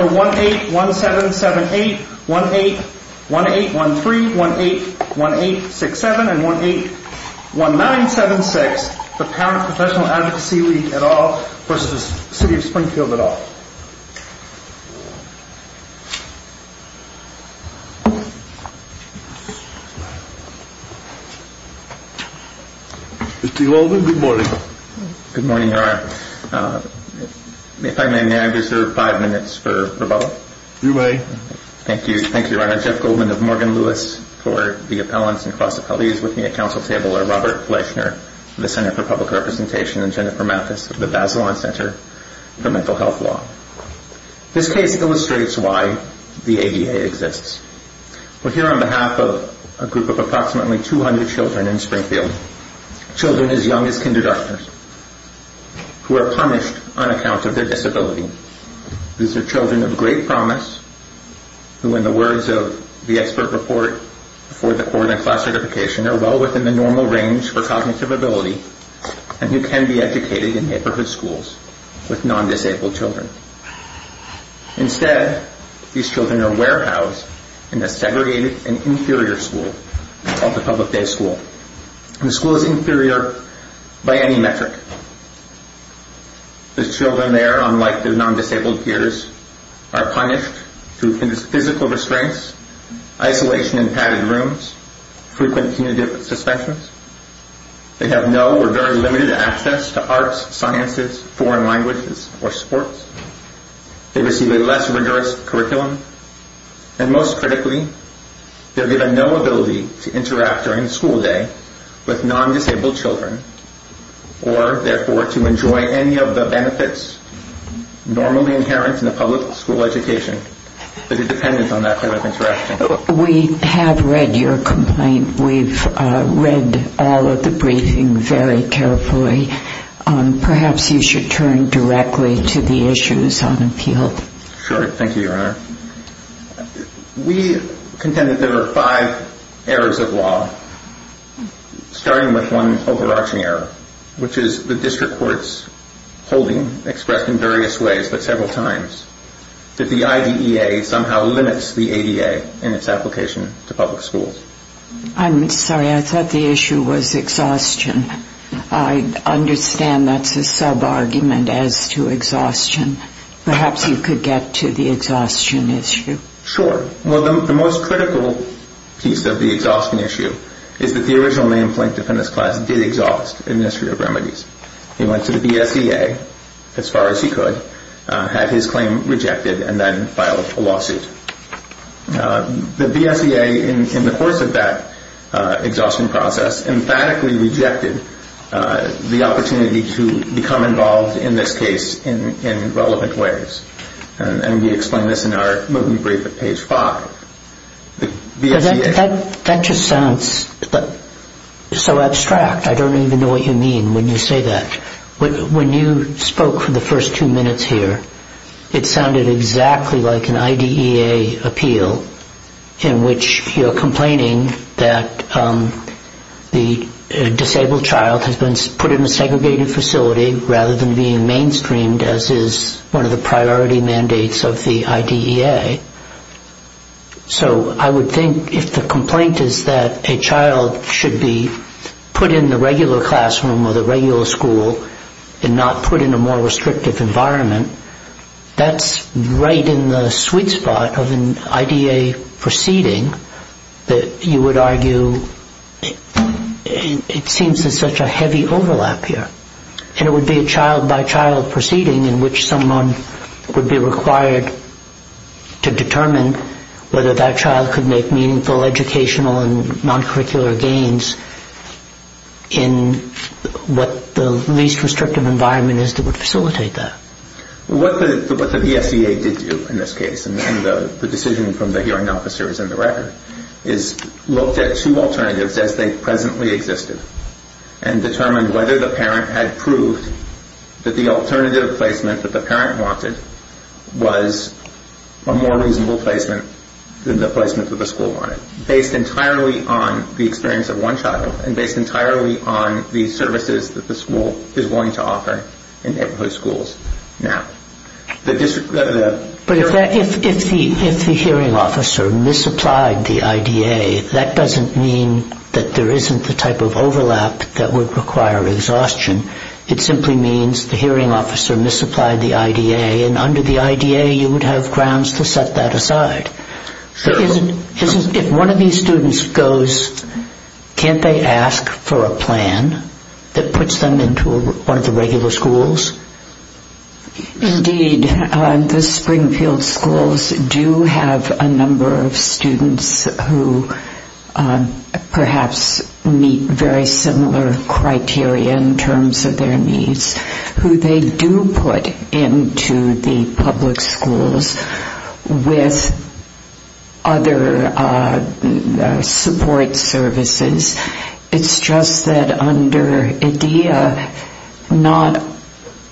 181778, 181813, 181867, and 181976, the Parent Professional Advocacy League et al. v. City of Springfield et al. Mr. Ulden, good morning. Good morning, Your Honor. If I may, may I reserve five minutes for rebuttal? You may. Thank you, Your Honor. Jeff Goldman of Morgan Lewis for the Appellants and Cross Appellees, with me at Council Table are Robert Fleishner of the Center for Public Representation and Jennifer Mathis of the Bazelon Center for Mental Health Law. This case illustrates why the ADA exists. We're here on behalf of a group of approximately 200 children in Springfield. Children as young as kindergartners, who are punished on account of their disability. These are children of great promise, who in the words of the expert report for the Court of Class Certification are well within the normal range for cognitive ability, and who can be educated in neighborhood schools with non-disabled children. Instead, these children are warehoused in a segregated and inferior school called the Public Day School. The school is inferior by any metric. The children there, unlike the non-disabled peers, are punished through physical restraints, isolation in padded rooms, frequent punitive suspensions. They have no or very limited access to arts, sciences, foreign languages, or sports. They receive a less rigorous curriculum. And most critically, they're given no ability to interact during school day with non-disabled children, or therefore to enjoy any of the benefits normally inherent in a public school education that are dependent on that kind of interaction. We have read your complaint. We've read all of the briefing very carefully. Perhaps you should turn directly to the issues on appeal. Sure. Thank you, Your Honor. We contend that there are five errors of law, starting with one overarching error, which is the district court's holding, expressed in various ways but several times, that the IDEA somehow limits the ADA in its application to public schools. I'm sorry. I thought the issue was exhaustion. I understand that's a sub-argument as to exhaustion. Perhaps you could get to the exhaustion issue. Sure. Well, the most critical piece of the exhaustion issue is that the original named plaintiff in this class did exhaust administrative remedies. He went to the BSEA, as far as he could, had his claim rejected, and then filed a lawsuit. The BSEA, in the course of that exhaustion process, emphatically rejected the opportunity to become involved in this case in relevant ways. And we explain this in our movement brief at page 5. That just sounds so abstract. I don't even know what you mean when you say that. When you spoke for the first two minutes here, it sounded exactly like an IDEA appeal in which you're complaining that the disabled child has been put in a segregated facility rather than being mainstreamed, as is one of the priority mandates of the IDEA. So I would think if the complaint is that a child should be put in the regular classroom or the regular school and not put in a more restrictive environment, that's right in the sweet spot of an IDEA proceeding that you would argue it seems there's such a heavy overlap here. And it would be a child-by-child proceeding in which someone would be required to determine whether that child could make meaningful educational and non-curricular gains in what the least restrictive environment is that would facilitate that. What the BSEA did do in this case, and the decision from the hearing officer is in the record, is looked at two alternatives as they presently existed and determined whether the parent had proved that the alternative placement that the parent wanted was a more reasonable placement than the placement that the school wanted, based entirely on the experience of one child and based entirely on the services that the school is willing to offer in neighborhood schools. But if the hearing officer misapplied the IDEA, that doesn't mean that there isn't the type of overlap that would require exhaustion. It simply means the hearing officer misapplied the IDEA, and under the IDEA you would have grounds to set that aside. If one of these students goes, can't they ask for a plan that puts them into one of the regular schools? Indeed, the Springfield schools do have a number of students who perhaps meet very similar criteria in terms of their needs, who they do put into the public schools with other support services. It's just that under IDEA, not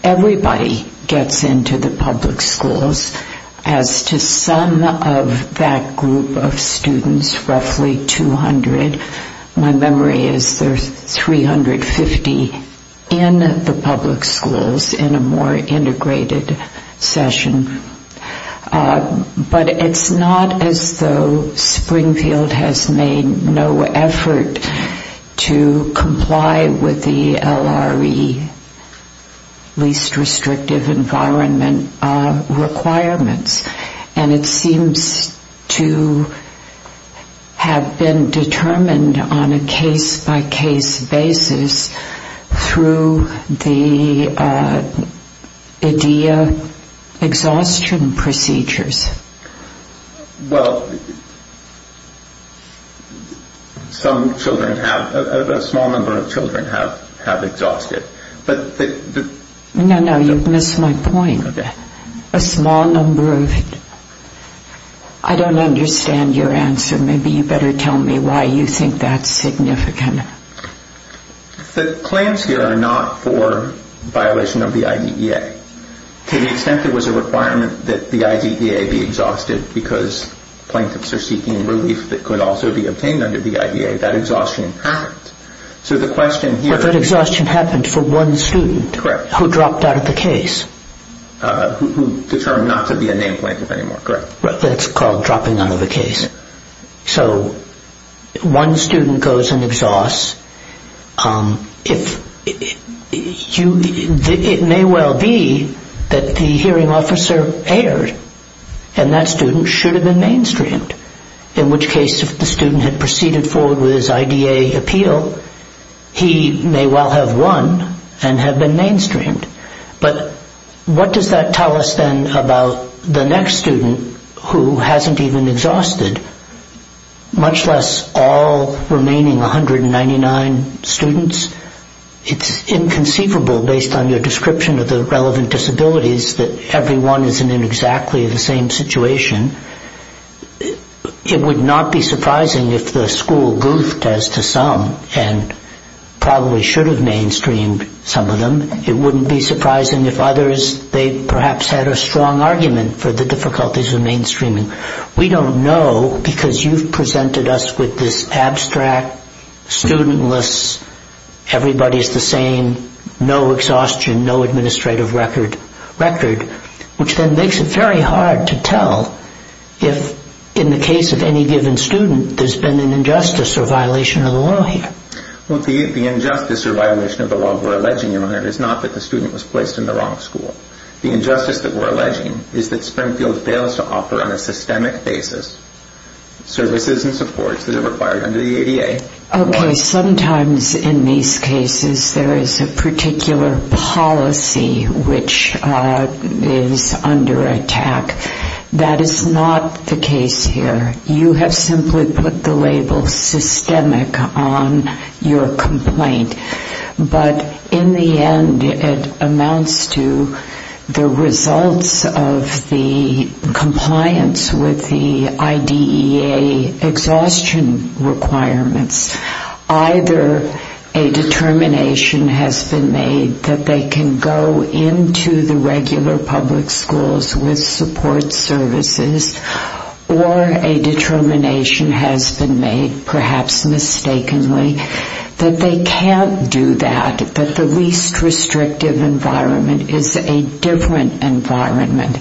everybody gets into the public schools. As to some of that group of students, roughly 200, my memory is there's 350 in the public schools. In a more integrated session. But it's not as though Springfield has made no effort to comply with the LRE, Least Restrictive Environment requirements. And it seems to have been determined on a case-by-case basis through the LRE and the LRE, the IDEA exhaustion procedures. Well, some children have, a small number of children have exhausted. No, no, you've missed my point. I don't understand your answer. Maybe you better tell me why you think that's significant. The plans here are not for violation of the IDEA. To the extent there was a requirement that the IDEA be exhausted because plaintiffs are seeking relief that could also be obtained under the IDEA, that exhaustion happened. But that exhaustion happened for one student who dropped out of the case. Who determined not to be a named plaintiff anymore. That's called dropping out of a case. So one student goes and exhausts. It may well be that the hearing officer erred and that student should have been mainstreamed. In which case if the student had proceeded forward with his IDEA appeal, he may well have won and have been mainstreamed. But what does that tell us then about the next student who hasn't even exhausted? Much less all remaining 199 students. It's inconceivable based on your description of the relevant disabilities that everyone isn't in exactly the same situation. It would not be surprising if the school goofed as to some and probably should have mainstreamed some of them. It wouldn't be surprising if others, they perhaps had a strong argument for the difficulties of mainstreaming. We don't know because you've presented us with this abstract, studentless, everybody's the same, no exhaustion, no administrative record. Which then makes it very hard to tell if in the case of any given student there's been an injustice or violation of the law here. The injustice or violation of the law we're alleging is not that the student was placed in the wrong school. The injustice that we're alleging is that Springfield fails to offer on a systemic basis services and supports that are required under the ADA. Okay, sometimes in these cases there is a particular policy which is under attack. That is not the case here. You have simply put the label systemic on your complaint. But in the end it amounts to the results of the compliance with the IDEA exhaustion requirements. Either a determination has been made that they can go into the regular public schools with support services or a determination has been made, perhaps mistakenly, that they can't do that. That the least restrictive environment is a different environment.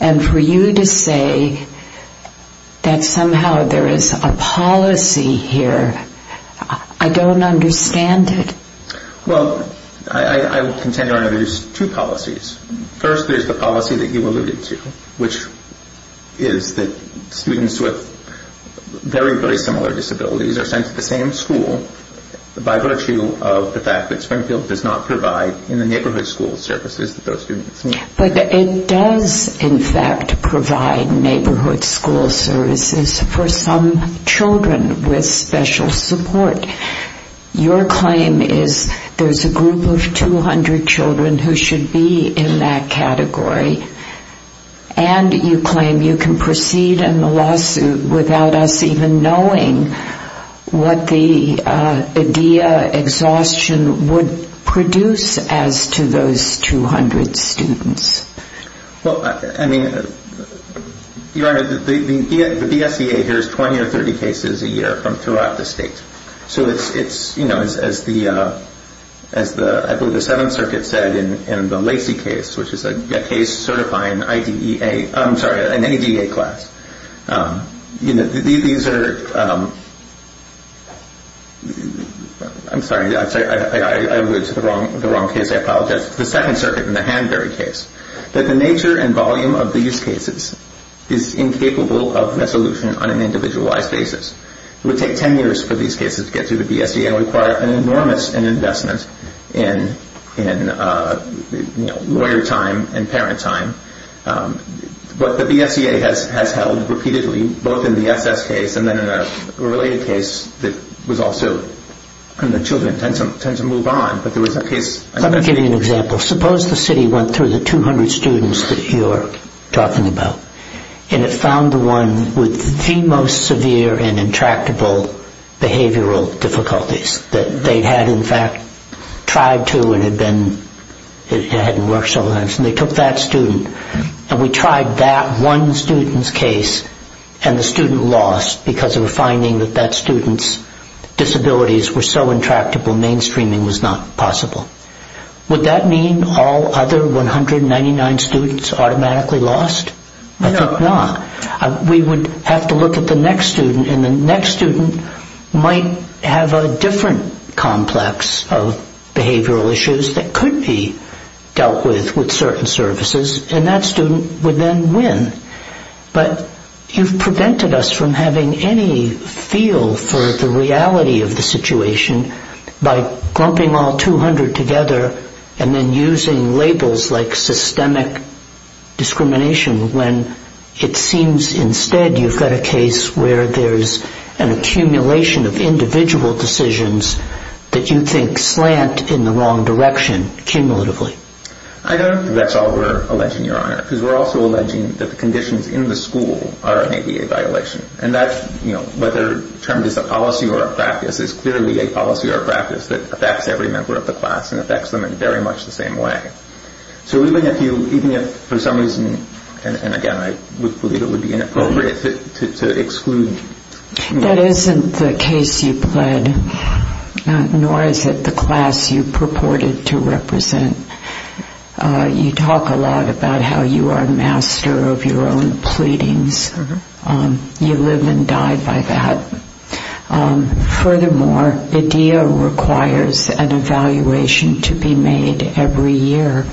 And for you to say that somehow there is a policy here, I don't understand it. Well, I will contend there are two policies. First is the policy that you alluded to, which is that students with very, very similar disabilities are sent to the same school by virtue of the fact that Springfield does not provide in the neighborhood school services that those students need. But it does in fact provide neighborhood school services for some children with special support. Your claim is there is a group of 200 children who should be in that category. And you claim you can proceed in the lawsuit without us even knowing what the IDEA exhaustion would produce as to those 200 students. Well, I mean, Your Honor, the BSEA hears 20 or 30 cases a year from throughout the state. So it's, you know, as the Seventh Circuit said in the Lacey case, which is a case certifying IDEA, I'm sorry, an IDEA class. You know, these are, I'm sorry, I alluded to the wrong case. I apologize. The Second Circuit in the Hanbury case. That the nature and volume of these cases is incapable of resolution on an individualized basis. It would take 10 years for these cases to get to the BSEA and require an enormous investment in lawyer time and parent time. But the BSEA has held repeatedly, both in the SS case and then in a related case that was also, and the children tend to move on. Let me give you an example. Suppose the city went through the 200 students that you're talking about and it found the one with the most severe and intractable behavioral difficulties. That they had, in fact, tried to and it had been, it hadn't worked so it took that student. And we tried that one student's case and the student lost because of a finding that that student's disabilities were so intractable mainstreaming was not possible. Would that mean all other 199 students automatically lost? No. I think not. We would have to look at the next student and the next student might have a different complex of behavioral issues that could be dealt with with certain services. And that student would then win. But you've prevented us from having any feel for the reality of the situation by grumping all 200 together and then using labels like systemic discrimination when it seems instead you've got a case where there's an accumulation of individual decisions that you think slant in the wrong direction, cumulatively. I don't think that's all we're alleging, Your Honor. Because we're also alleging that the conditions in the school are an ADA violation. And that's, you know, whether termed as a policy or a practice is clearly a policy or a practice that affects every member of the class and affects them in very much the same way. So even if you, even if for some reason, and again I would believe it would be inappropriate to exclude. That isn't the case you pled, nor is it the class you purported to represent. You talk a lot about how you are a master of your own pleadings. You live and die by that. Furthermore, IDEA requires an evaluation to be made every year.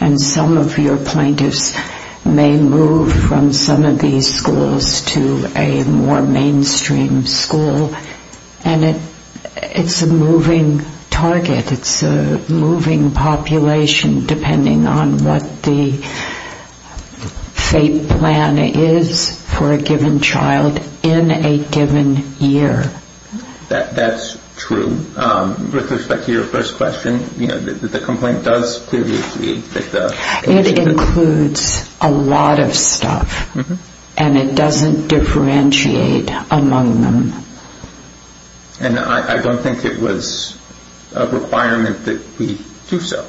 And some of your plaintiffs may move from some of these schools to a more mainstream school. And it's a moving target. It's a moving population depending on what the fate plan is for a given child in a given year. That's true. With respect to your first question, you know, the complaint does clearly indicate that the... It includes a lot of stuff. And it doesn't differentiate among them. And I don't think it was a requirement that we do so.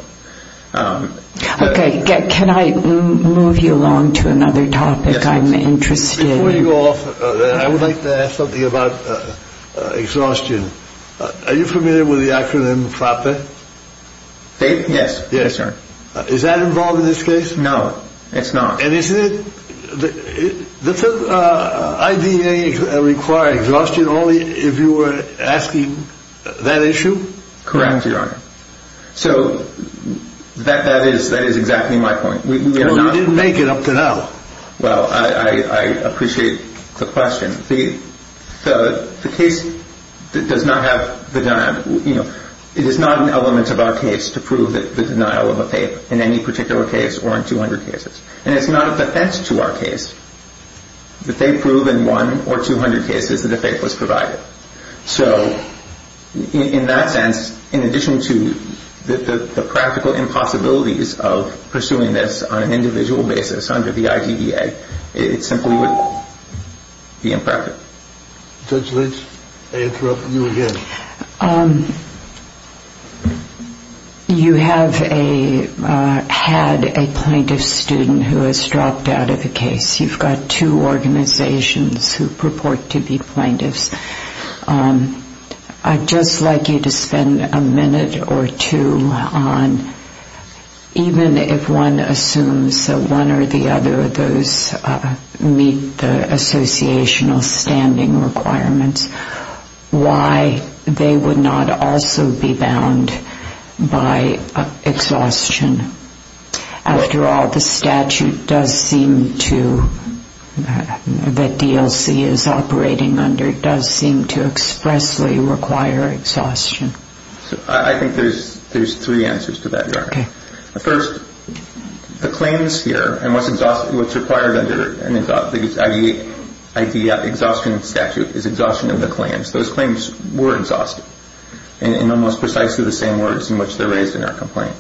Okay. Can I move you along to another topic I'm interested in? Before you go off, I would like to ask something about exhaustion. Are you familiar with the acronym FAPE? FAPE? Yes. Yes, sir. Is that involved in this case? No, it's not. And isn't it... Does IDEA require exhaustion only if you are asking that issue? Correct, Your Honor. So that is exactly my point. Because you didn't make it up to now. Well, I appreciate the question. The case does not have the... It is not an element of our case to prove the denial of a FAPE in any particular case or in 200 cases. And it's not a defense to our case that they prove in one or 200 cases that a FAPE was provided. So in that sense, in addition to the practical impossibilities of pursuing this on an individual basis under the IDEA, it simply would be impractical. Judge Lynch, I interrupt you again. You have had a plaintiff student who has dropped out of the case. You've got two organizations who purport to be plaintiffs. I'd just like you to spend a minute or two on, even if one assumes that one or the other of those meet the associational standing requirements, why they would not also be bound by exhaustion. After all, the statute that DLC is operating under does seem to expressly require exhaustion. I think there's three answers to that, Your Honor. Okay. First, the claims here and what's required under the IDEA exhaustion statute is exhaustion of the claims. Those claims were exhausted in almost precisely the same words in which they're raised in our complaint.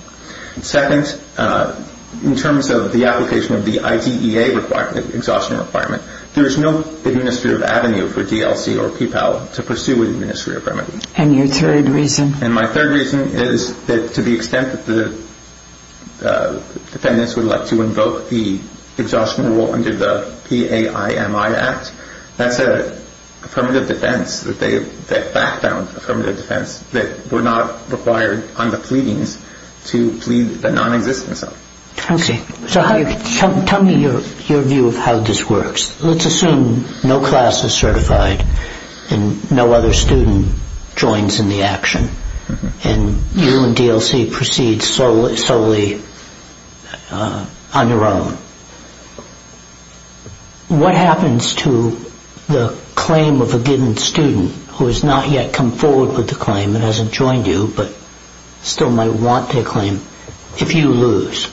Second, in terms of the application of the IDEA exhaustion requirement, there is no administrative avenue for DLC or PPAL to pursue an administrative remedy. And your third reason? And my third reason is that to the extent that the defendants would like to invoke the exhaustion rule under the PAIMI Act, that's an affirmative defense that they've backed down, an affirmative defense that we're not required on the pleadings to plead the nonexistence of. Okay. So tell me your view of how this works. Let's assume no class is certified and no other student joins in the action, and you and DLC proceed solely on your own. What happens to the claim of a given student who has not yet come forward with the claim and hasn't joined you but still might want to claim if you lose?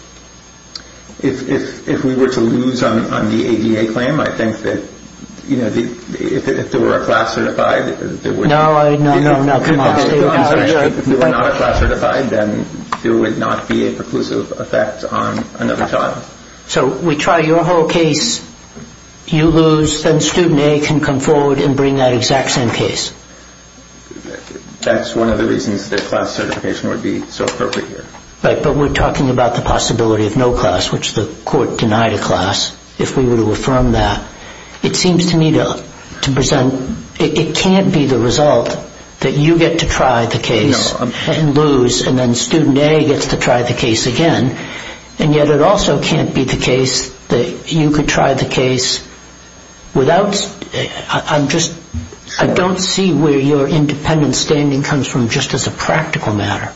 If we were to lose on the ADA claim, I think that if there were a class certified, No, no, no, come on. If there were not a class certified, then there would not be a preclusive effect on another child. So we try your whole case, you lose, then student A can come forward and bring that exact same case. That's one of the reasons that class certification would be so appropriate here. Right, but we're talking about the possibility of no class, which the court denied a class, if we were to affirm that. It seems to me to present it can't be the result that you get to try the case and lose, and then student A gets to try the case again. And yet it also can't be the case that you could try the case without – I don't see where your independent standing comes from just as a practical matter.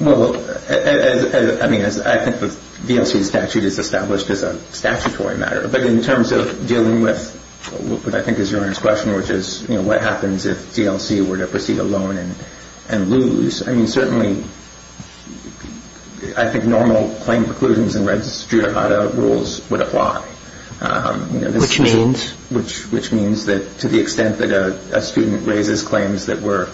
Well, I think the DLC statute is established as a statutory matter, but in terms of dealing with what I think is Your Honor's question, which is what happens if DLC were to proceed alone and lose, I mean certainly I think normal claim preclusions and registrata rules would apply. Which means? Which means that to the extent that a student raises claims that were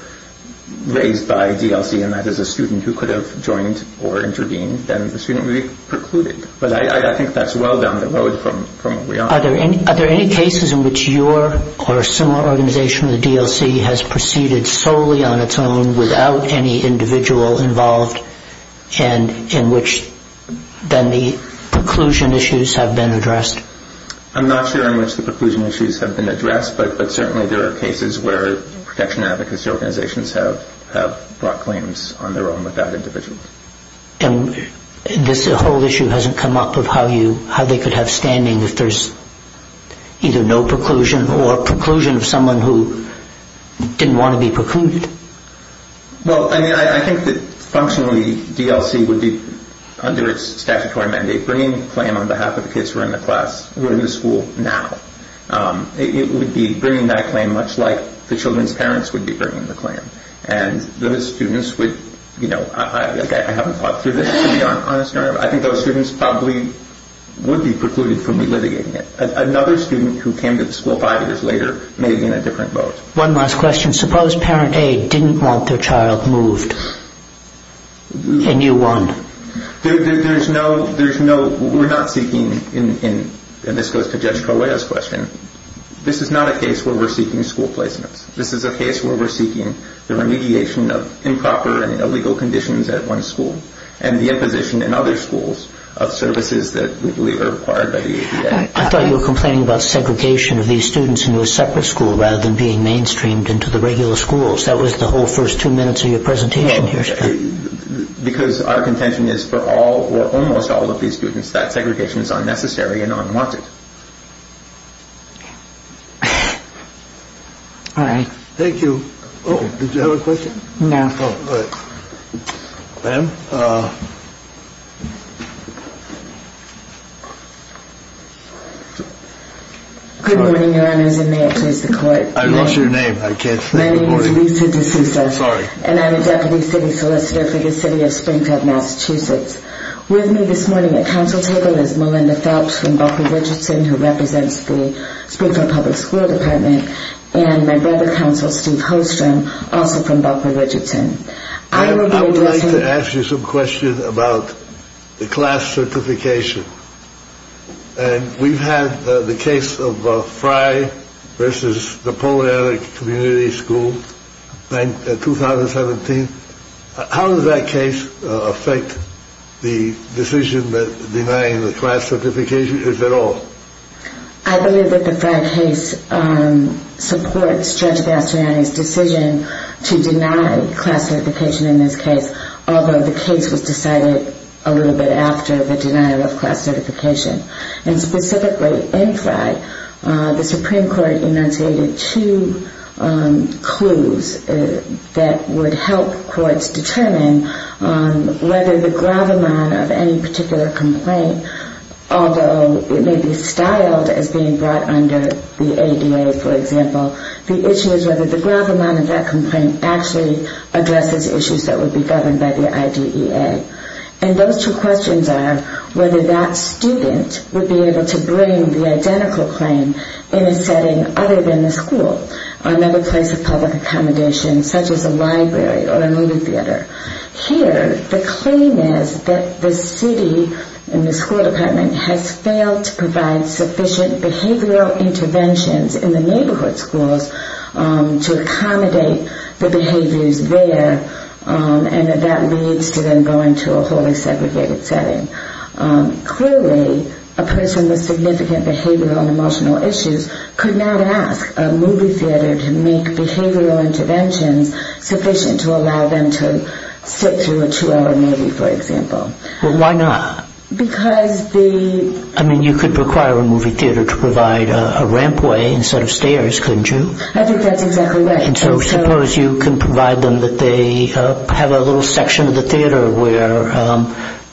raised by DLC, and that is a student who could have joined or intervened, then the student would be precluded. But I think that's well down the road from what we are. Are there any cases in which your or a similar organization of the DLC has proceeded solely on its own without any individual involved and in which then the preclusion issues have been addressed? I'm not sure in which the preclusion issues have been addressed, but certainly there are cases where protection advocacy organizations have brought claims on their own without individuals. And this whole issue hasn't come up of how they could have standing if there's either no preclusion or preclusion of someone who didn't want to be precluded? Well, I mean I think that functionally DLC would be, under its statutory mandate, bringing a claim on behalf of the kids who are in the school now. It would be bringing that claim much like the children's parents would be bringing the claim. And those students would, you know, I haven't thought through this to be honest. I think those students probably would be precluded from re-litigating it. Another student who came to the school five years later may be in a different boat. One last question. Suppose parent A didn't want their child moved and you won? There's no, there's no, we're not seeking, and this goes to Judge Correa's question, this is not a case where we're seeking school placements. This is a case where we're seeking the remediation of improper and illegal conditions at one school and the imposition in other schools of services that we believe are required by the ADA. I thought you were complaining about segregation of these students into a separate school rather than being mainstreamed into the regular schools. That was the whole first two minutes of your presentation here. Because our contention is for all or almost all of these students that segregation is unnecessary and unwanted. All right. Thank you. Oh, did you have a question? No. Oh, all right. Ma'am? Good morning, Your Honors, and may it please the Court. I lost your name. I can't think of your name. My name is Lisa DeSouza. Sorry. And I'm a deputy city solicitor for the city of Springfield, Massachusetts. With me this morning at council table is Melinda Phelps from Buckley-Ridgerton, who represents the Springfield Public School Department, and my brother counsel, Steve Holstrom, also from Buckley-Ridgerton. I would like to ask you some questions about the class certification. And we've had the case of Fry versus Napoleonic Community School in 2017. How does that case affect the decision that denying the class certification is at all? I believe that the Fry case supports Judge Bastiani's decision to deny class certification in this case, although the case was decided a little bit after the denial of class certification. And specifically in Fry, the Supreme Court enunciated two clues that would help courts determine whether the gravamon of any particular complaint, although it may be styled as being brought under the ADA, for example, the issue is whether the gravamon of that complaint actually addresses issues that would be governed by the IDEA. And those two questions are whether that student would be able to bring the identical claim in a setting other than the school, another place of public accommodation, such as a library or a movie theater. Here, the claim is that the city and the school department has failed to provide sufficient behavioral interventions in the neighborhood schools to accommodate the behaviors there, and that leads to them going to a wholly segregated setting. Clearly, a person with significant behavioral and emotional issues could not ask a movie theater to make behavioral interventions sufficient to allow them to sit through a two-hour movie, for example. Well, why not? Because the... I mean, you could require a movie theater to provide a rampway instead of stairs, couldn't you? I think that's exactly right. And so suppose you can provide them that they have a little section of the theater where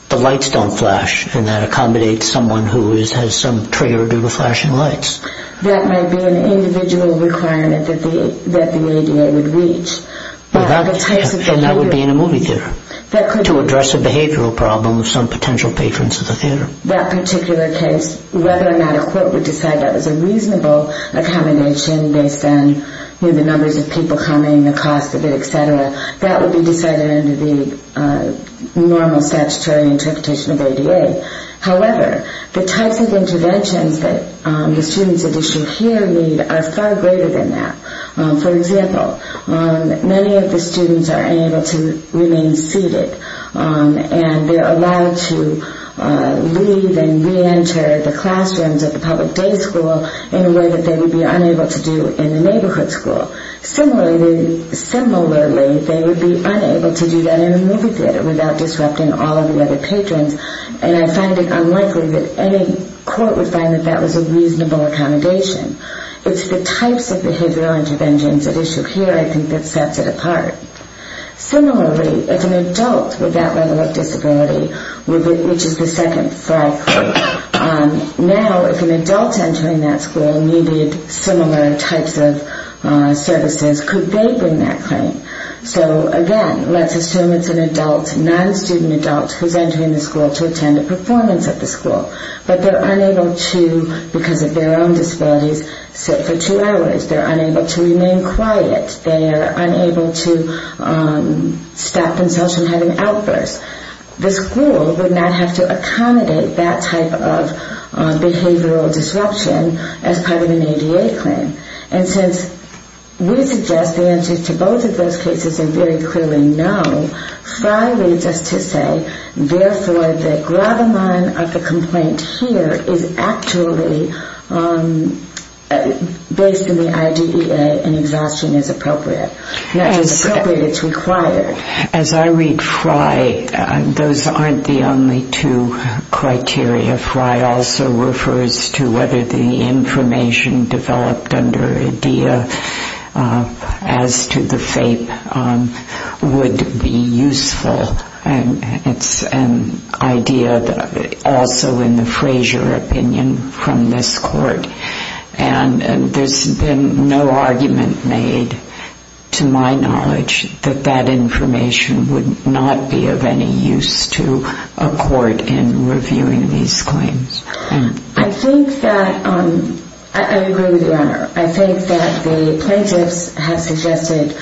the lights don't flash, and that accommodates someone who has some trigger due to flashing lights. That might be an individual requirement that the ADA would reach. And that would be in a movie theater to address a behavioral problem of some potential patrons of the theater. That particular case, whether or not a court would decide that was a reasonable accommodation based on the numbers of people coming, the cost of it, et cetera, that would be decided under the normal statutory interpretation of ADA. However, the types of interventions that the students at issue here need are far greater than that. For example, many of the students are unable to remain seated, and they're allowed to leave and reenter the classrooms of the public day school in a way that they would be unable to do in the neighborhood school. Similarly, they would be unable to do that in a movie theater without disrupting all of the other patrons, and I find it unlikely that any court would find that that was a reasonable accommodation. It's the types of behavioral interventions at issue here, I think, that sets it apart. Similarly, if an adult with that level of disability reaches the second flagpole, now if an adult entering that school needed similar types of services, could they bring that claim? So again, let's assume it's an adult, non-student adult, who's entering the school to attend a performance at the school, but they're unable to, because of their own disabilities, sit for two hours. They're unable to remain quiet. They are unable to stop themselves from having outbursts. The school would not have to accommodate that type of behavioral disruption as part of an ADA claim, and since we suggest the answers to both of those cases are very clearly no, Frye leads us to say, therefore, the gravamon of the complaint here is actually based in the IDEA, and exhaustion is appropriate. Not just appropriate, it's required. As I read Frye, those aren't the only two criteria. Frye also refers to whether the information developed under IDEA as to the FAPE would be useful, and it's an idea also in the Frazier opinion from this court. And there's been no argument made, to my knowledge, that that information would not be of any use to a court in reviewing these claims. I think that the plaintiffs have suggested,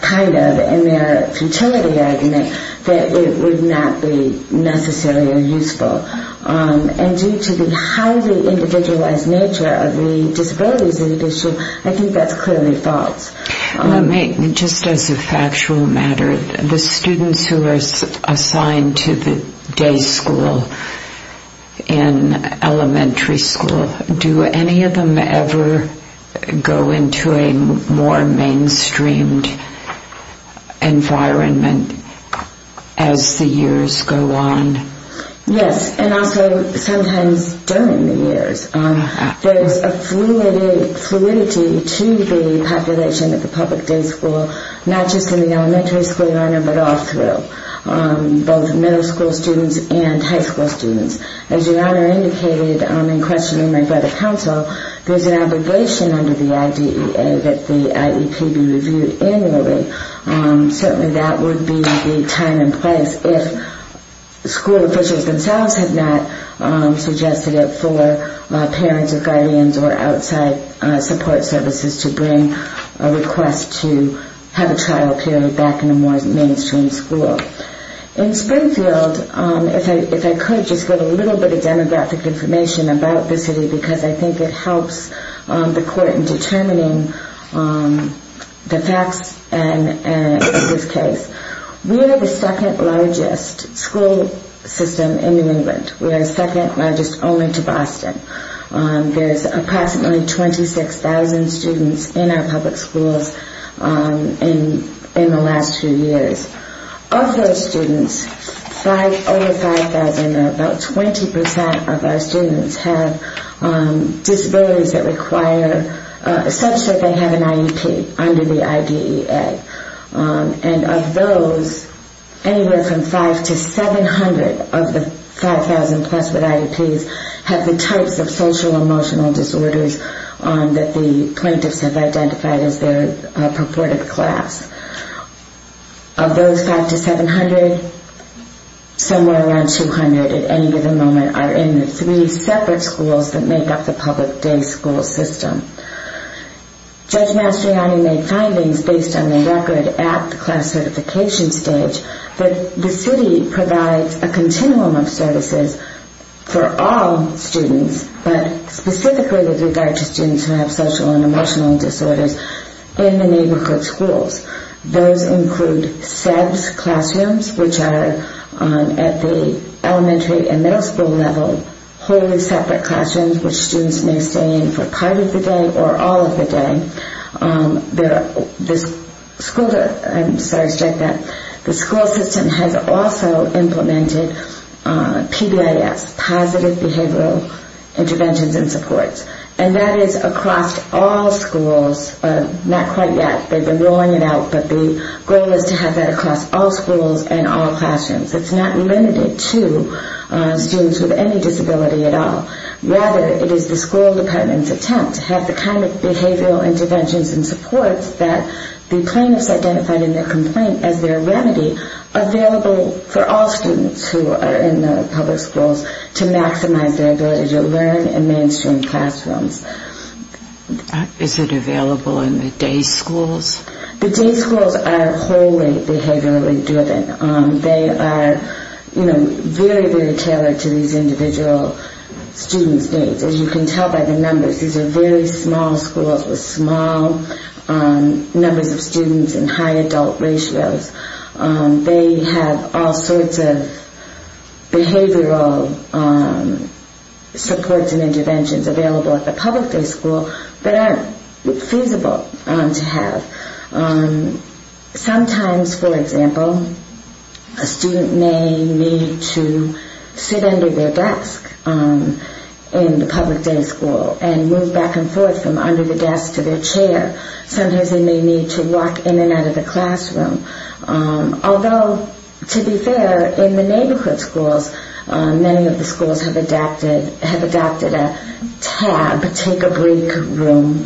kind of in their futility argument, that it would not be necessarily useful. And due to the highly individualized nature of the disabilities in addition, I think that's clearly false. Let me, just as a factual matter, the students who are assigned to the day school in elementary school, do any of them ever go into a more mainstreamed environment as the years go on? Yes, and also sometimes during the years. There's a fluidity to the population at the public day school, not just in the elementary school, Your Honor, but all through. Both middle school students and high school students. As Your Honor indicated in questioning my brother's counsel, there's an obligation under the IDEA that the IEP be reviewed annually. Certainly that would be the time and place if school officials themselves had not suggested it for parents or guardians or outside support services to bring a request to have a trial period back in a more mainstream school. In Springfield, if I could, just get a little bit of demographic information about the city, because I think it helps the court in determining the facts in this case. We are the second largest school system in New England. We are second largest only to Boston. There's approximately 26,000 students in our public schools in the last few years. Of those students, over 5,000, or about 20% of our students, have disabilities such that they have an IEP under the IDEA. And of those, anywhere from 5 to 700 of the 5,000 plus with IEPs have the types of social-emotional disorders that the plaintiffs have identified as their purported class. Of those 5 to 700, somewhere around 200 at any given moment are in the three separate schools that make up the public day school system. Judge Mastriani made findings based on the record at the class certification stage that the city provides a continuum of services for all students, but specifically with regard to students who have social and emotional disorders in the neighborhood schools. Those include SEBS classrooms, which are at the elementary and middle school level, wholly separate classrooms where students may stay in for part of the day or all of the day. The school system has also implemented PBIS, Positive Behavioral Interventions and Supports. And that is across all schools, not quite yet. They've been rolling it out, but the goal is to have that across all schools and all classrooms. It's not limited to students with any disability at all. Rather, it is the school department's attempt to have the kind of behavioral interventions and supports that the plaintiffs identified in their complaint as their remedy available for all students who are in the public schools to maximize their ability to learn in mainstream classrooms. Is it available in the day schools? The day schools are wholly behaviorally driven. They are, you know, very, very tailored to these individual students' needs. As you can tell by the numbers, these are very small schools with small numbers of students and high adult ratios. They have all sorts of behavioral supports and interventions available at the public day school that aren't feasible to have. Sometimes, for example, a student may need to sit under their desk in the public day school and move back and forth from under the desk to their chair. Sometimes they may need to walk in and out of the classroom. Although, to be fair, in the neighborhood schools, many of the schools have adopted a tab, take a break room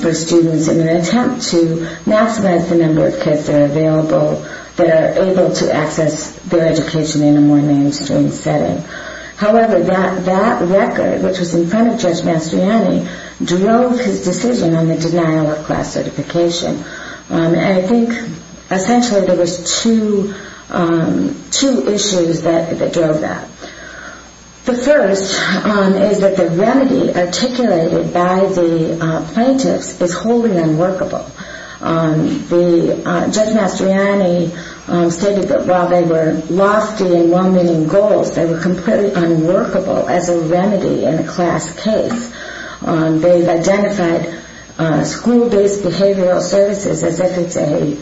for students in an attempt to maximize the number of kids that are available that are able to access their education in a more mainstream setting. However, that record, which was in front of Judge Mastriani, drove his decision on the denial of class certification. And I think essentially there was two issues that drove that. The first is that the remedy articulated by the plaintiffs is wholly unworkable. Judge Mastriani stated that while they were lofty and well-meaning goals, they were completely unworkable as a remedy in a class case. They identified school-based behavioral services as if it's a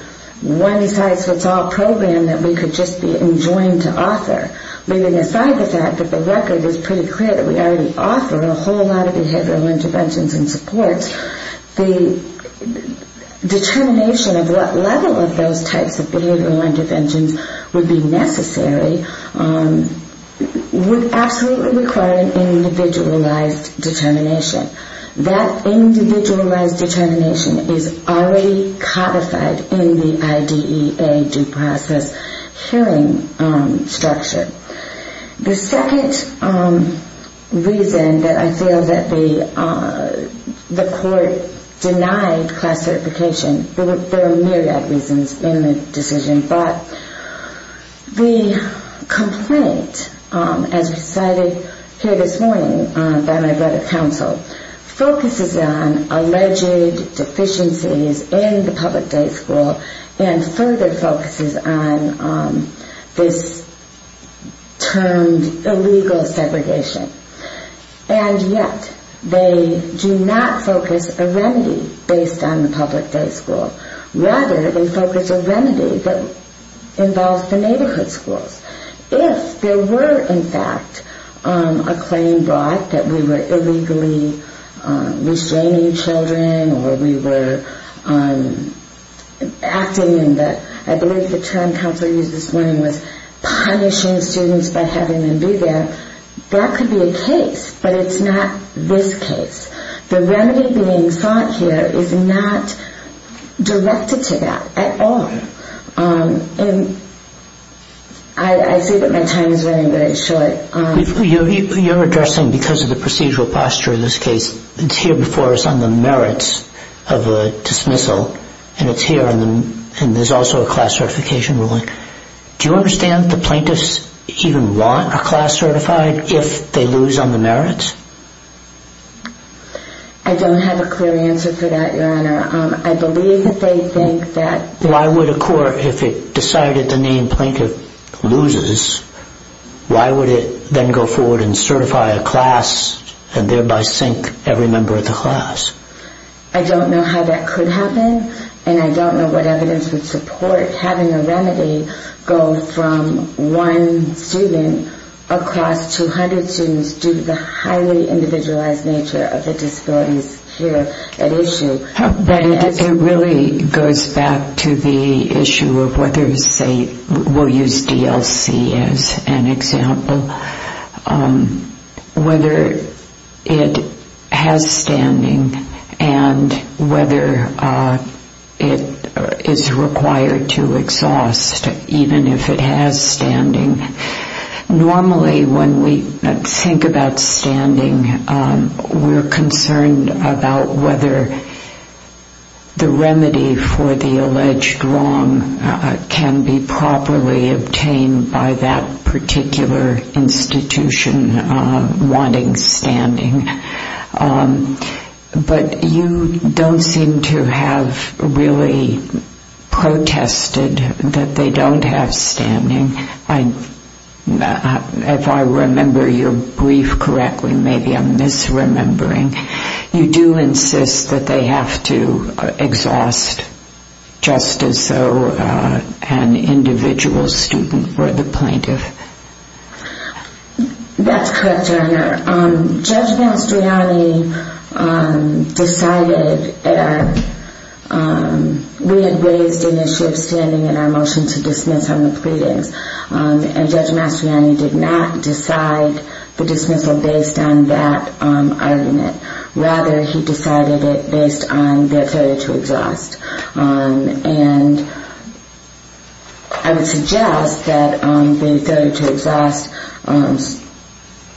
one-size-fits-all program that we could just be enjoined to offer. Leaving aside the fact that the record is pretty clear that we already offer a whole lot of behavioral interventions and supports, the determination of what level of those types of behavioral interventions would be necessary would absolutely require an individualized determination. That individualized determination is already codified in the IDEA due process hearing structure. The second reason that I feel that the court denied class certification, there are myriad reasons in the decision, but the complaint as recited here this morning by my Board of Counsel focuses on alleged deficiencies in the public day school and further focuses on this termed illegal segregation. And yet they do not focus a remedy based on the public day school. Rather, they focus a remedy that involves the neighborhood schools. If there were, in fact, a claim brought that we were illegally restraining children or we were acting in the, I believe the term counselor used this morning, was punishing students by having them be there, that could be a case. But it's not this case. The remedy being sought here is not directed to that at all. And I say that my time is running very short. You're addressing, because of the procedural posture in this case, it's here before us on the merits of a dismissal, and it's here and there's also a class certification ruling. Do you understand the plaintiffs even want a class certified if they lose on the merits? I don't have a clear answer for that, Your Honor. I believe that they think that... Why would a court, if it decided the name plaintiff loses, why would it then go forward and certify a class and thereby sink every member of the class? I don't know how that could happen, and I don't know what evidence would support having a remedy go from one student across 200 students due to the highly individualized nature of the disabilities here at issue. But it really goes back to the issue of whether, say, we'll use DLC as an example, whether it has standing and whether it is required to exhaust even if it has standing. Normally when we think about standing, we're concerned about whether the remedy for the alleged wrong can be properly obtained by that particular institution wanting standing. But you don't seem to have really protested that they don't have standing. If I remember your brief correctly, maybe I'm misremembering. You do insist that they have to exhaust just as though an individual student for the plaintiff. That's correct, Your Honor. Judge Mastroianni decided... We had raised an issue of standing in our motion to dismiss on the pleadings, and Judge Mastroianni did not decide the dismissal based on that argument. Rather, he decided it based on the authority to exhaust.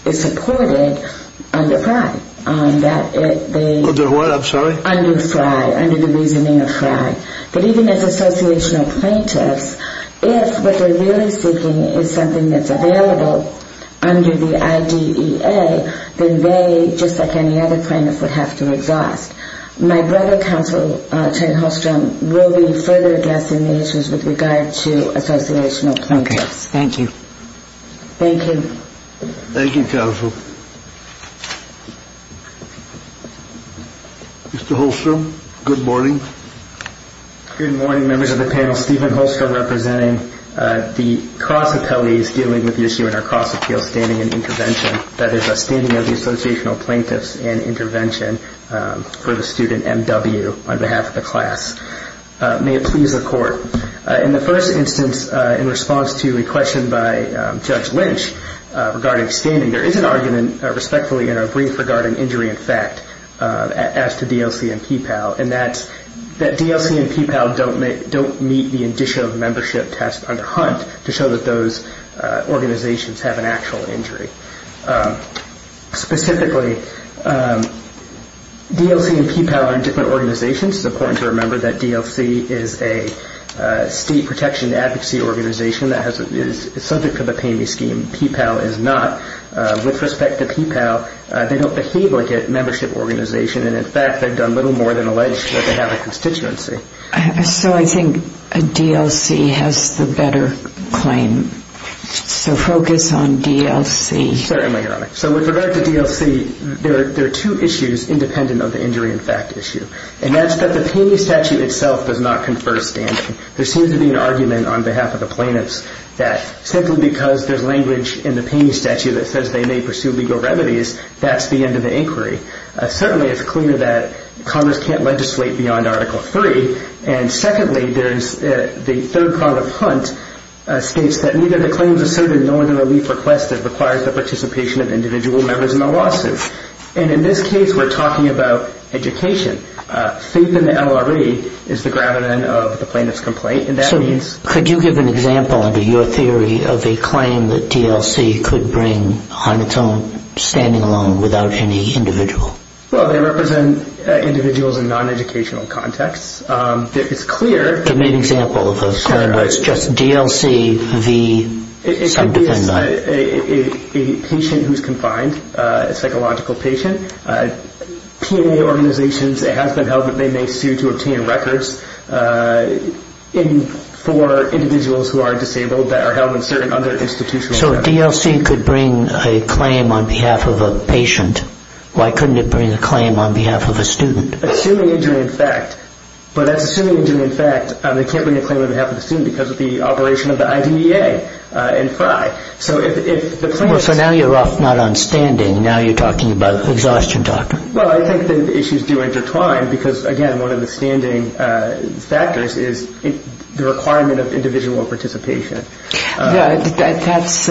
It's supported under FRI. Under what, I'm sorry? Under FRI, under the reasoning of FRI. But even as associational plaintiffs, if what they're really seeking is something that's available under the IDEA, then they, just like any other plaintiff, would have to exhaust. My brother, Counsel Chen Holstrom, will be further addressing the issues with regard to associational plaintiffs. Thank you. Thank you, Counsel. Mr. Holstrom, good morning. Good morning, members of the panel. Stephen Holstrom representing the cross appellees dealing with the issue in our cross appeal standing and intervention, that is a standing of the associational plaintiffs and intervention for the student M.W. on behalf of the class. May it please the court. In the first instance, in response to a question by Judge Lynch regarding standing, there is an argument, respectfully, in our brief regarding injury in fact, as to DLC and PPAL, and that DLC and PPAL don't meet the indicia of membership test under HUNT to show that those organizations have an actual injury. Specifically, DLC and PPAL are in different organizations. It's important to remember that DLC is a state protection advocacy organization that is subject to the PAMI scheme. PPAL is not. With respect to PPAL, they don't behave like a membership organization, and in fact, they've done little more than allege that they have a constituency. So I think a DLC has the better claim. So focus on DLC. Certainly, Your Honor. So with regard to DLC, there are two issues independent of the injury in fact issue, and that's that the PAMI statute itself does not confer standing. There seems to be an argument on behalf of the plaintiffs that simply because there's language in the PAMI statute that says they may pursue legal remedies, that's the end of the inquiry. Certainly, it's clear that Congress can't legislate beyond Article III, and secondly, the third part of HUNT states that neither the claims asserted nor the relief requested requires the participation of individual members in the lawsuit. And in this case, we're talking about education. Faith in the LRE is the gravamen of the plaintiff's complaint. So could you give an example under your theory of a claim that DLC could bring on its own, standing alone, without any individual? Well, they represent individuals in non-educational contexts. It's clear. Give me an example of a claim where it's just DLC v. sub-defendant. It could be a patient who's confined, a psychological patient. PMA organizations, it has been held that they may sue to obtain records for individuals who are disabled that are held in certain other institutional settings. So if DLC could bring a claim on behalf of a patient, why couldn't it bring a claim on behalf of a student? Assuming injury in fact, but that's assuming injury in fact. They can't bring a claim on behalf of the student because of the operation of the IDEA and FRI. So if the plaintiff's- Well, so now you're off not on standing. Now you're talking about exhaustion doctrine. Well, I think that the issues do intertwine because, again, one of the standing factors is the requirement of individual participation. That's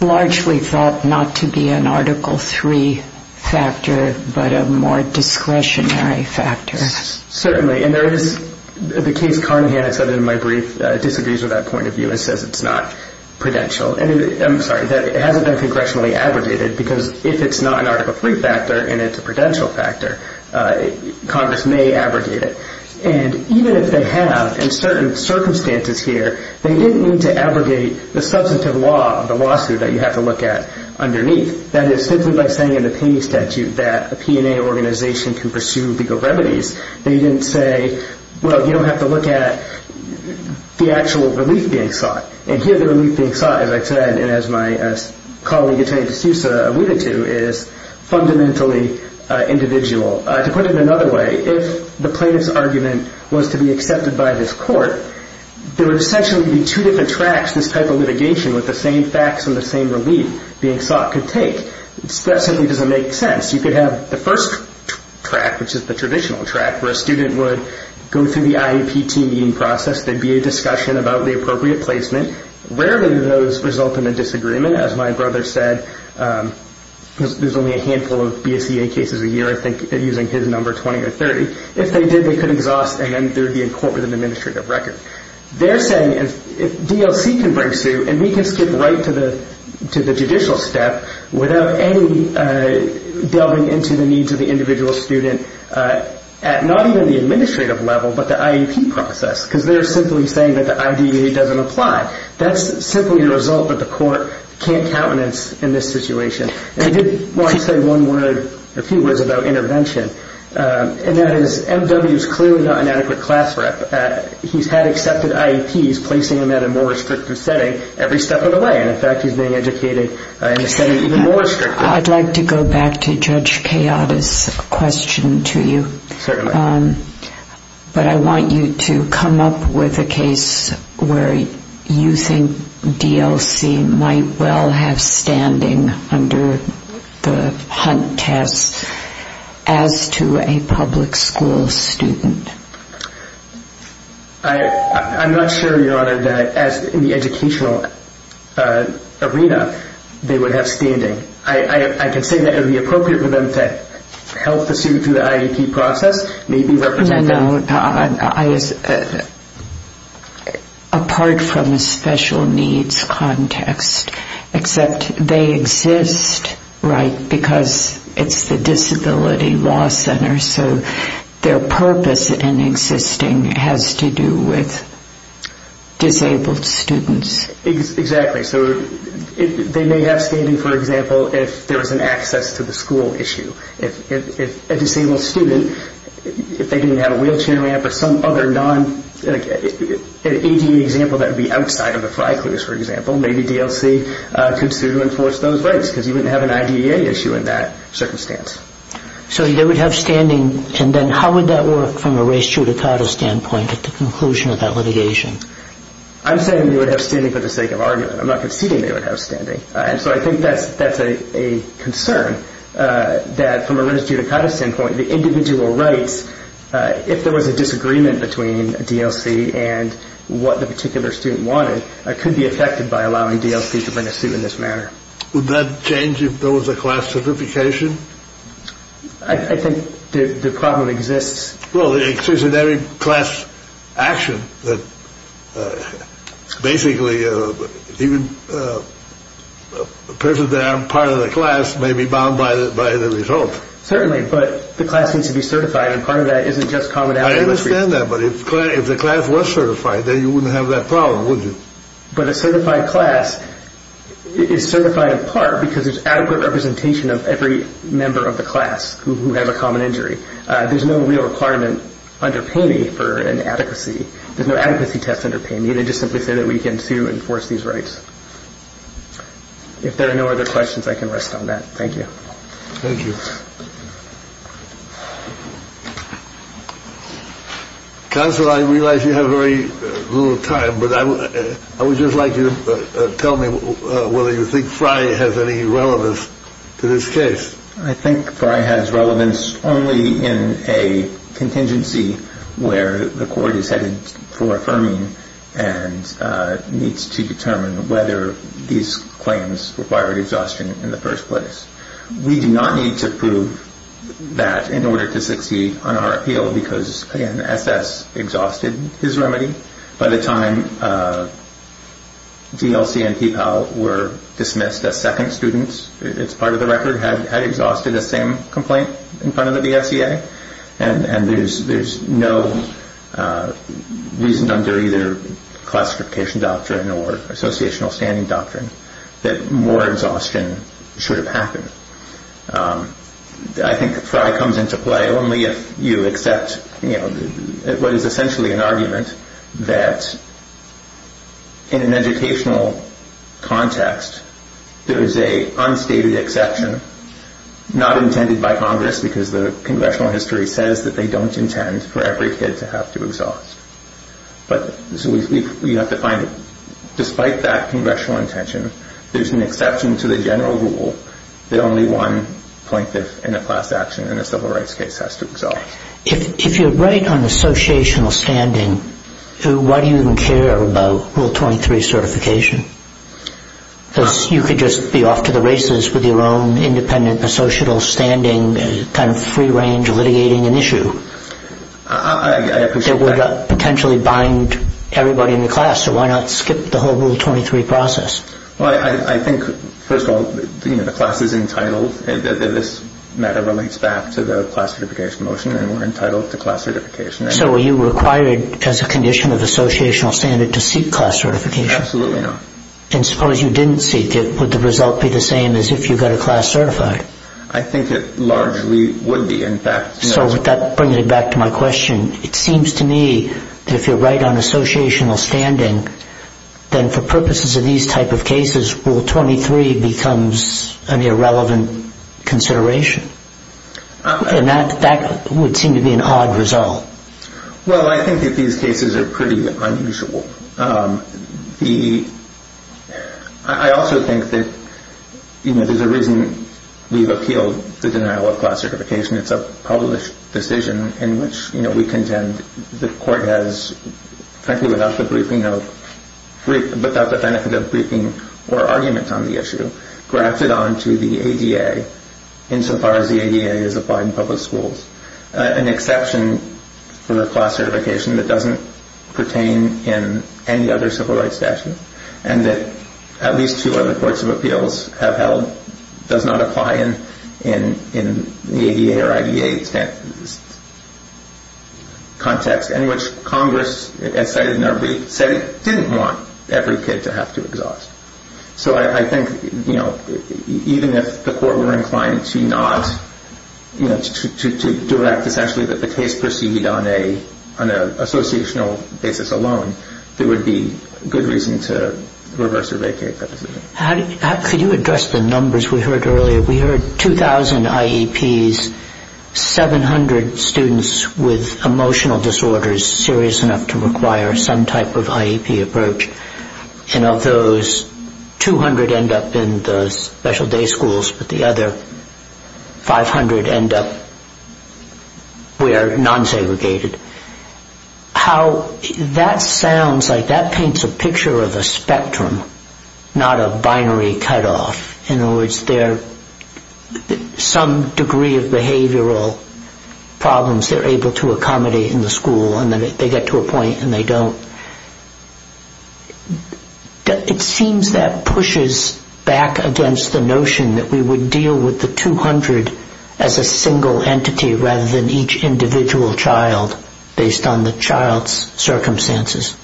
largely thought not to be an Article III factor but a more discretionary factor. Certainly. And there is the case Carnahan, as I said in my brief, disagrees with that point of view and says it's not prudential. I'm sorry, that it hasn't been congressionally abrogated because if it's not an Article III factor and it's a prudential factor, Congress may abrogate it. And even if they have, in certain circumstances here, they didn't need to abrogate the substantive law of the lawsuit that you have to look at underneath. That is, simply by saying in the painting statute that a P&A organization can pursue legal remedies, they didn't say, well, you don't have to look at the actual relief being sought. And here the relief being sought, as I said and as my colleague, Attorney DeSouza, alluded to, is fundamentally individual. To put it another way, if the plaintiff's argument was to be accepted by this court, there would essentially be two different tracks this type of litigation with the same facts and the same relief being sought could take. That simply doesn't make sense. You could have the first track, which is the traditional track, where a student would go through the IEP team meeting process. There would be a discussion about the appropriate placement. Rarely do those result in a disagreement. As my brother said, there's only a handful of BSEA cases a year, I think, using his number, 20 or 30. If they did, they could exhaust and then there would be a court with an administrative record. They're saying if DLC can bring suit and we can skip right to the judicial step without any delving into the needs of the individual student at not even the administrative level but the IEP process because they're simply saying that the IDEA doesn't apply. That's simply the result that the court can't countenance in this situation. I did want to say one word, a few words about intervention, and that is M.W.'s clearly not an adequate class rep. He's had accepted IEPs placing him at a more restrictive setting every step of the way. In fact, he's being educated in a setting even more restrictive. I'd like to go back to Judge Kayada's question to you. Certainly. But I want you to come up with a case where you think DLC might well have standing under the HUNT test as to a public school student. I'm not sure, Your Honor, that in the educational arena they would have standing. I can say that it would be appropriate for them to help the student through the IEP process. Apart from a special needs context, except they exist because it's the disability law center, so their purpose in existing has to do with disabled students. Exactly. So they may have standing, for example, if there was an access to the school issue. If a disabled student, if they didn't have a wheelchair ramp or some other non- an ADE example that would be outside of the fry clues, for example, maybe DLC could sue to enforce those rights because you wouldn't have an IDEA issue in that circumstance. So they would have standing. And then how would that work from a race judicata standpoint at the conclusion of that litigation? I'm saying they would have standing for the sake of argument. I'm not conceding they would have standing. So I think that's a concern that from a race judicata standpoint the individual rights, if there was a disagreement between DLC and what the particular student wanted, could be affected by allowing DLC to bring a suit in this manner. Would that change if there was a class certification? I think the problem exists. Well, it exists in every class action that basically even a person that aren't part of the class may be bound by the result. Certainly, but the class needs to be certified, and part of that isn't just commonality. I understand that, but if the class was certified, then you wouldn't have that problem, would you? But a certified class is certified in part because there's adequate representation of every member of the class who has a common injury. There's no real requirement under Paney for an adequacy. There's no adequacy test under Paney. They just simply say that we can sue and force these rights. If there are no other questions, I can rest on that. Thank you. Thank you. Counsel, I realize you have very little time, but I would just like you to tell me whether you think Fry has any relevance to this case. I think Fry has relevance only in a contingency where the court is headed for affirming and needs to determine whether these claims required exhaustion in the first place. We do not need to prove that in order to succeed on our appeal because, again, SS exhausted his remedy. By the time DLC and PPAL were dismissed as second students, it's part of the record, had exhausted the same complaint in front of the DSEA, and there's no reason under either classification doctrine or associational standing doctrine that more exhaustion should have happened. I think Fry comes into play only if you accept what is essentially an argument that, in an educational context, there is a unstated exception, not intended by Congress because the congressional history says that they don't intend for every kid to have to exhaust. So you have to find it. Despite that congressional intention, there's an exception to the general rule that only one plaintiff in a class action in a civil rights case has to exhaust. If you're right on associational standing, why do you even care about Rule 23 certification? Because you could just be off to the races with your own independent associational standing, kind of free-range litigating an issue that would potentially bind everybody in the class. So why not skip the whole Rule 23 process? Well, I think, first of all, the class is entitled. This matter relates back to the class certification motion, and we're entitled to class certification. So are you required as a condition of associational standing to seek class certification? Absolutely not. And suppose you didn't seek it. Would the result be the same as if you got a class certified? I think it largely would be. So that brings me back to my question. It seems to me that if you're right on associational standing, then for purposes of these type of cases, Rule 23 becomes an irrelevant consideration. And that would seem to be an odd result. Well, I think that these cases are pretty unusual. I also think that there's a reason we've upheld the denial of class certification. It's a published decision in which we contend the court has, frankly, without the benefit of briefing or argument on the issue, grafted onto the ADA insofar as the ADA is applied in public schools an exception for the class certification that doesn't pertain in any other civil rights statute and that at least two other courts of appeals have held does not apply in the ADA or IDA context in which Congress, as cited in our brief, said it didn't want every kid to have to exhaust. So I think even if the court were inclined to not, to direct essentially that the case proceed on an associational basis alone, there would be good reason to reverse or vacate that decision. Could you address the numbers we heard earlier? We heard 2,000 IEPs, 700 students with emotional disorders serious enough to require some type of IEP approach. And of those, 200 end up in the special day schools, but the other 500 end up where non-segregated. That sounds like that paints a picture of a spectrum, not a binary cutoff. In other words, some degree of behavioral problems they're able to accommodate in the school and then they get to a point and they don't. It seems that pushes back against the notion that we would deal with the 200 as a single entity rather than each individual child based on the child's circumstances.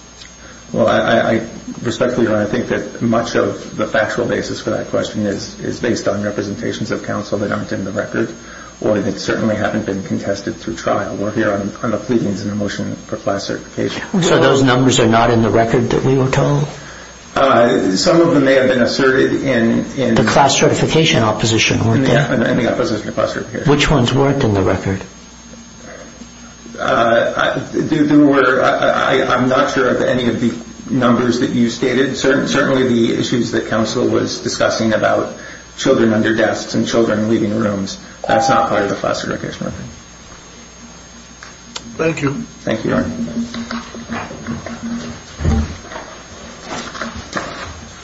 Respectfully, Your Honor, I think that much of the factual basis for that question is based on representations of counsel that aren't in the record or that certainly haven't been contested through trial. We're here on the pleadings in the motion for class certification. So those numbers are not in the record that we were told? Some of them may have been asserted in— The class certification opposition weren't there. In the opposition to class certification. Which ones weren't in the record? I'm not sure of any of the numbers that you stated. Certainly the issues that counsel was discussing about children under desks and children leaving rooms, that's not part of the class certification. Thank you. Thank you, Your Honor.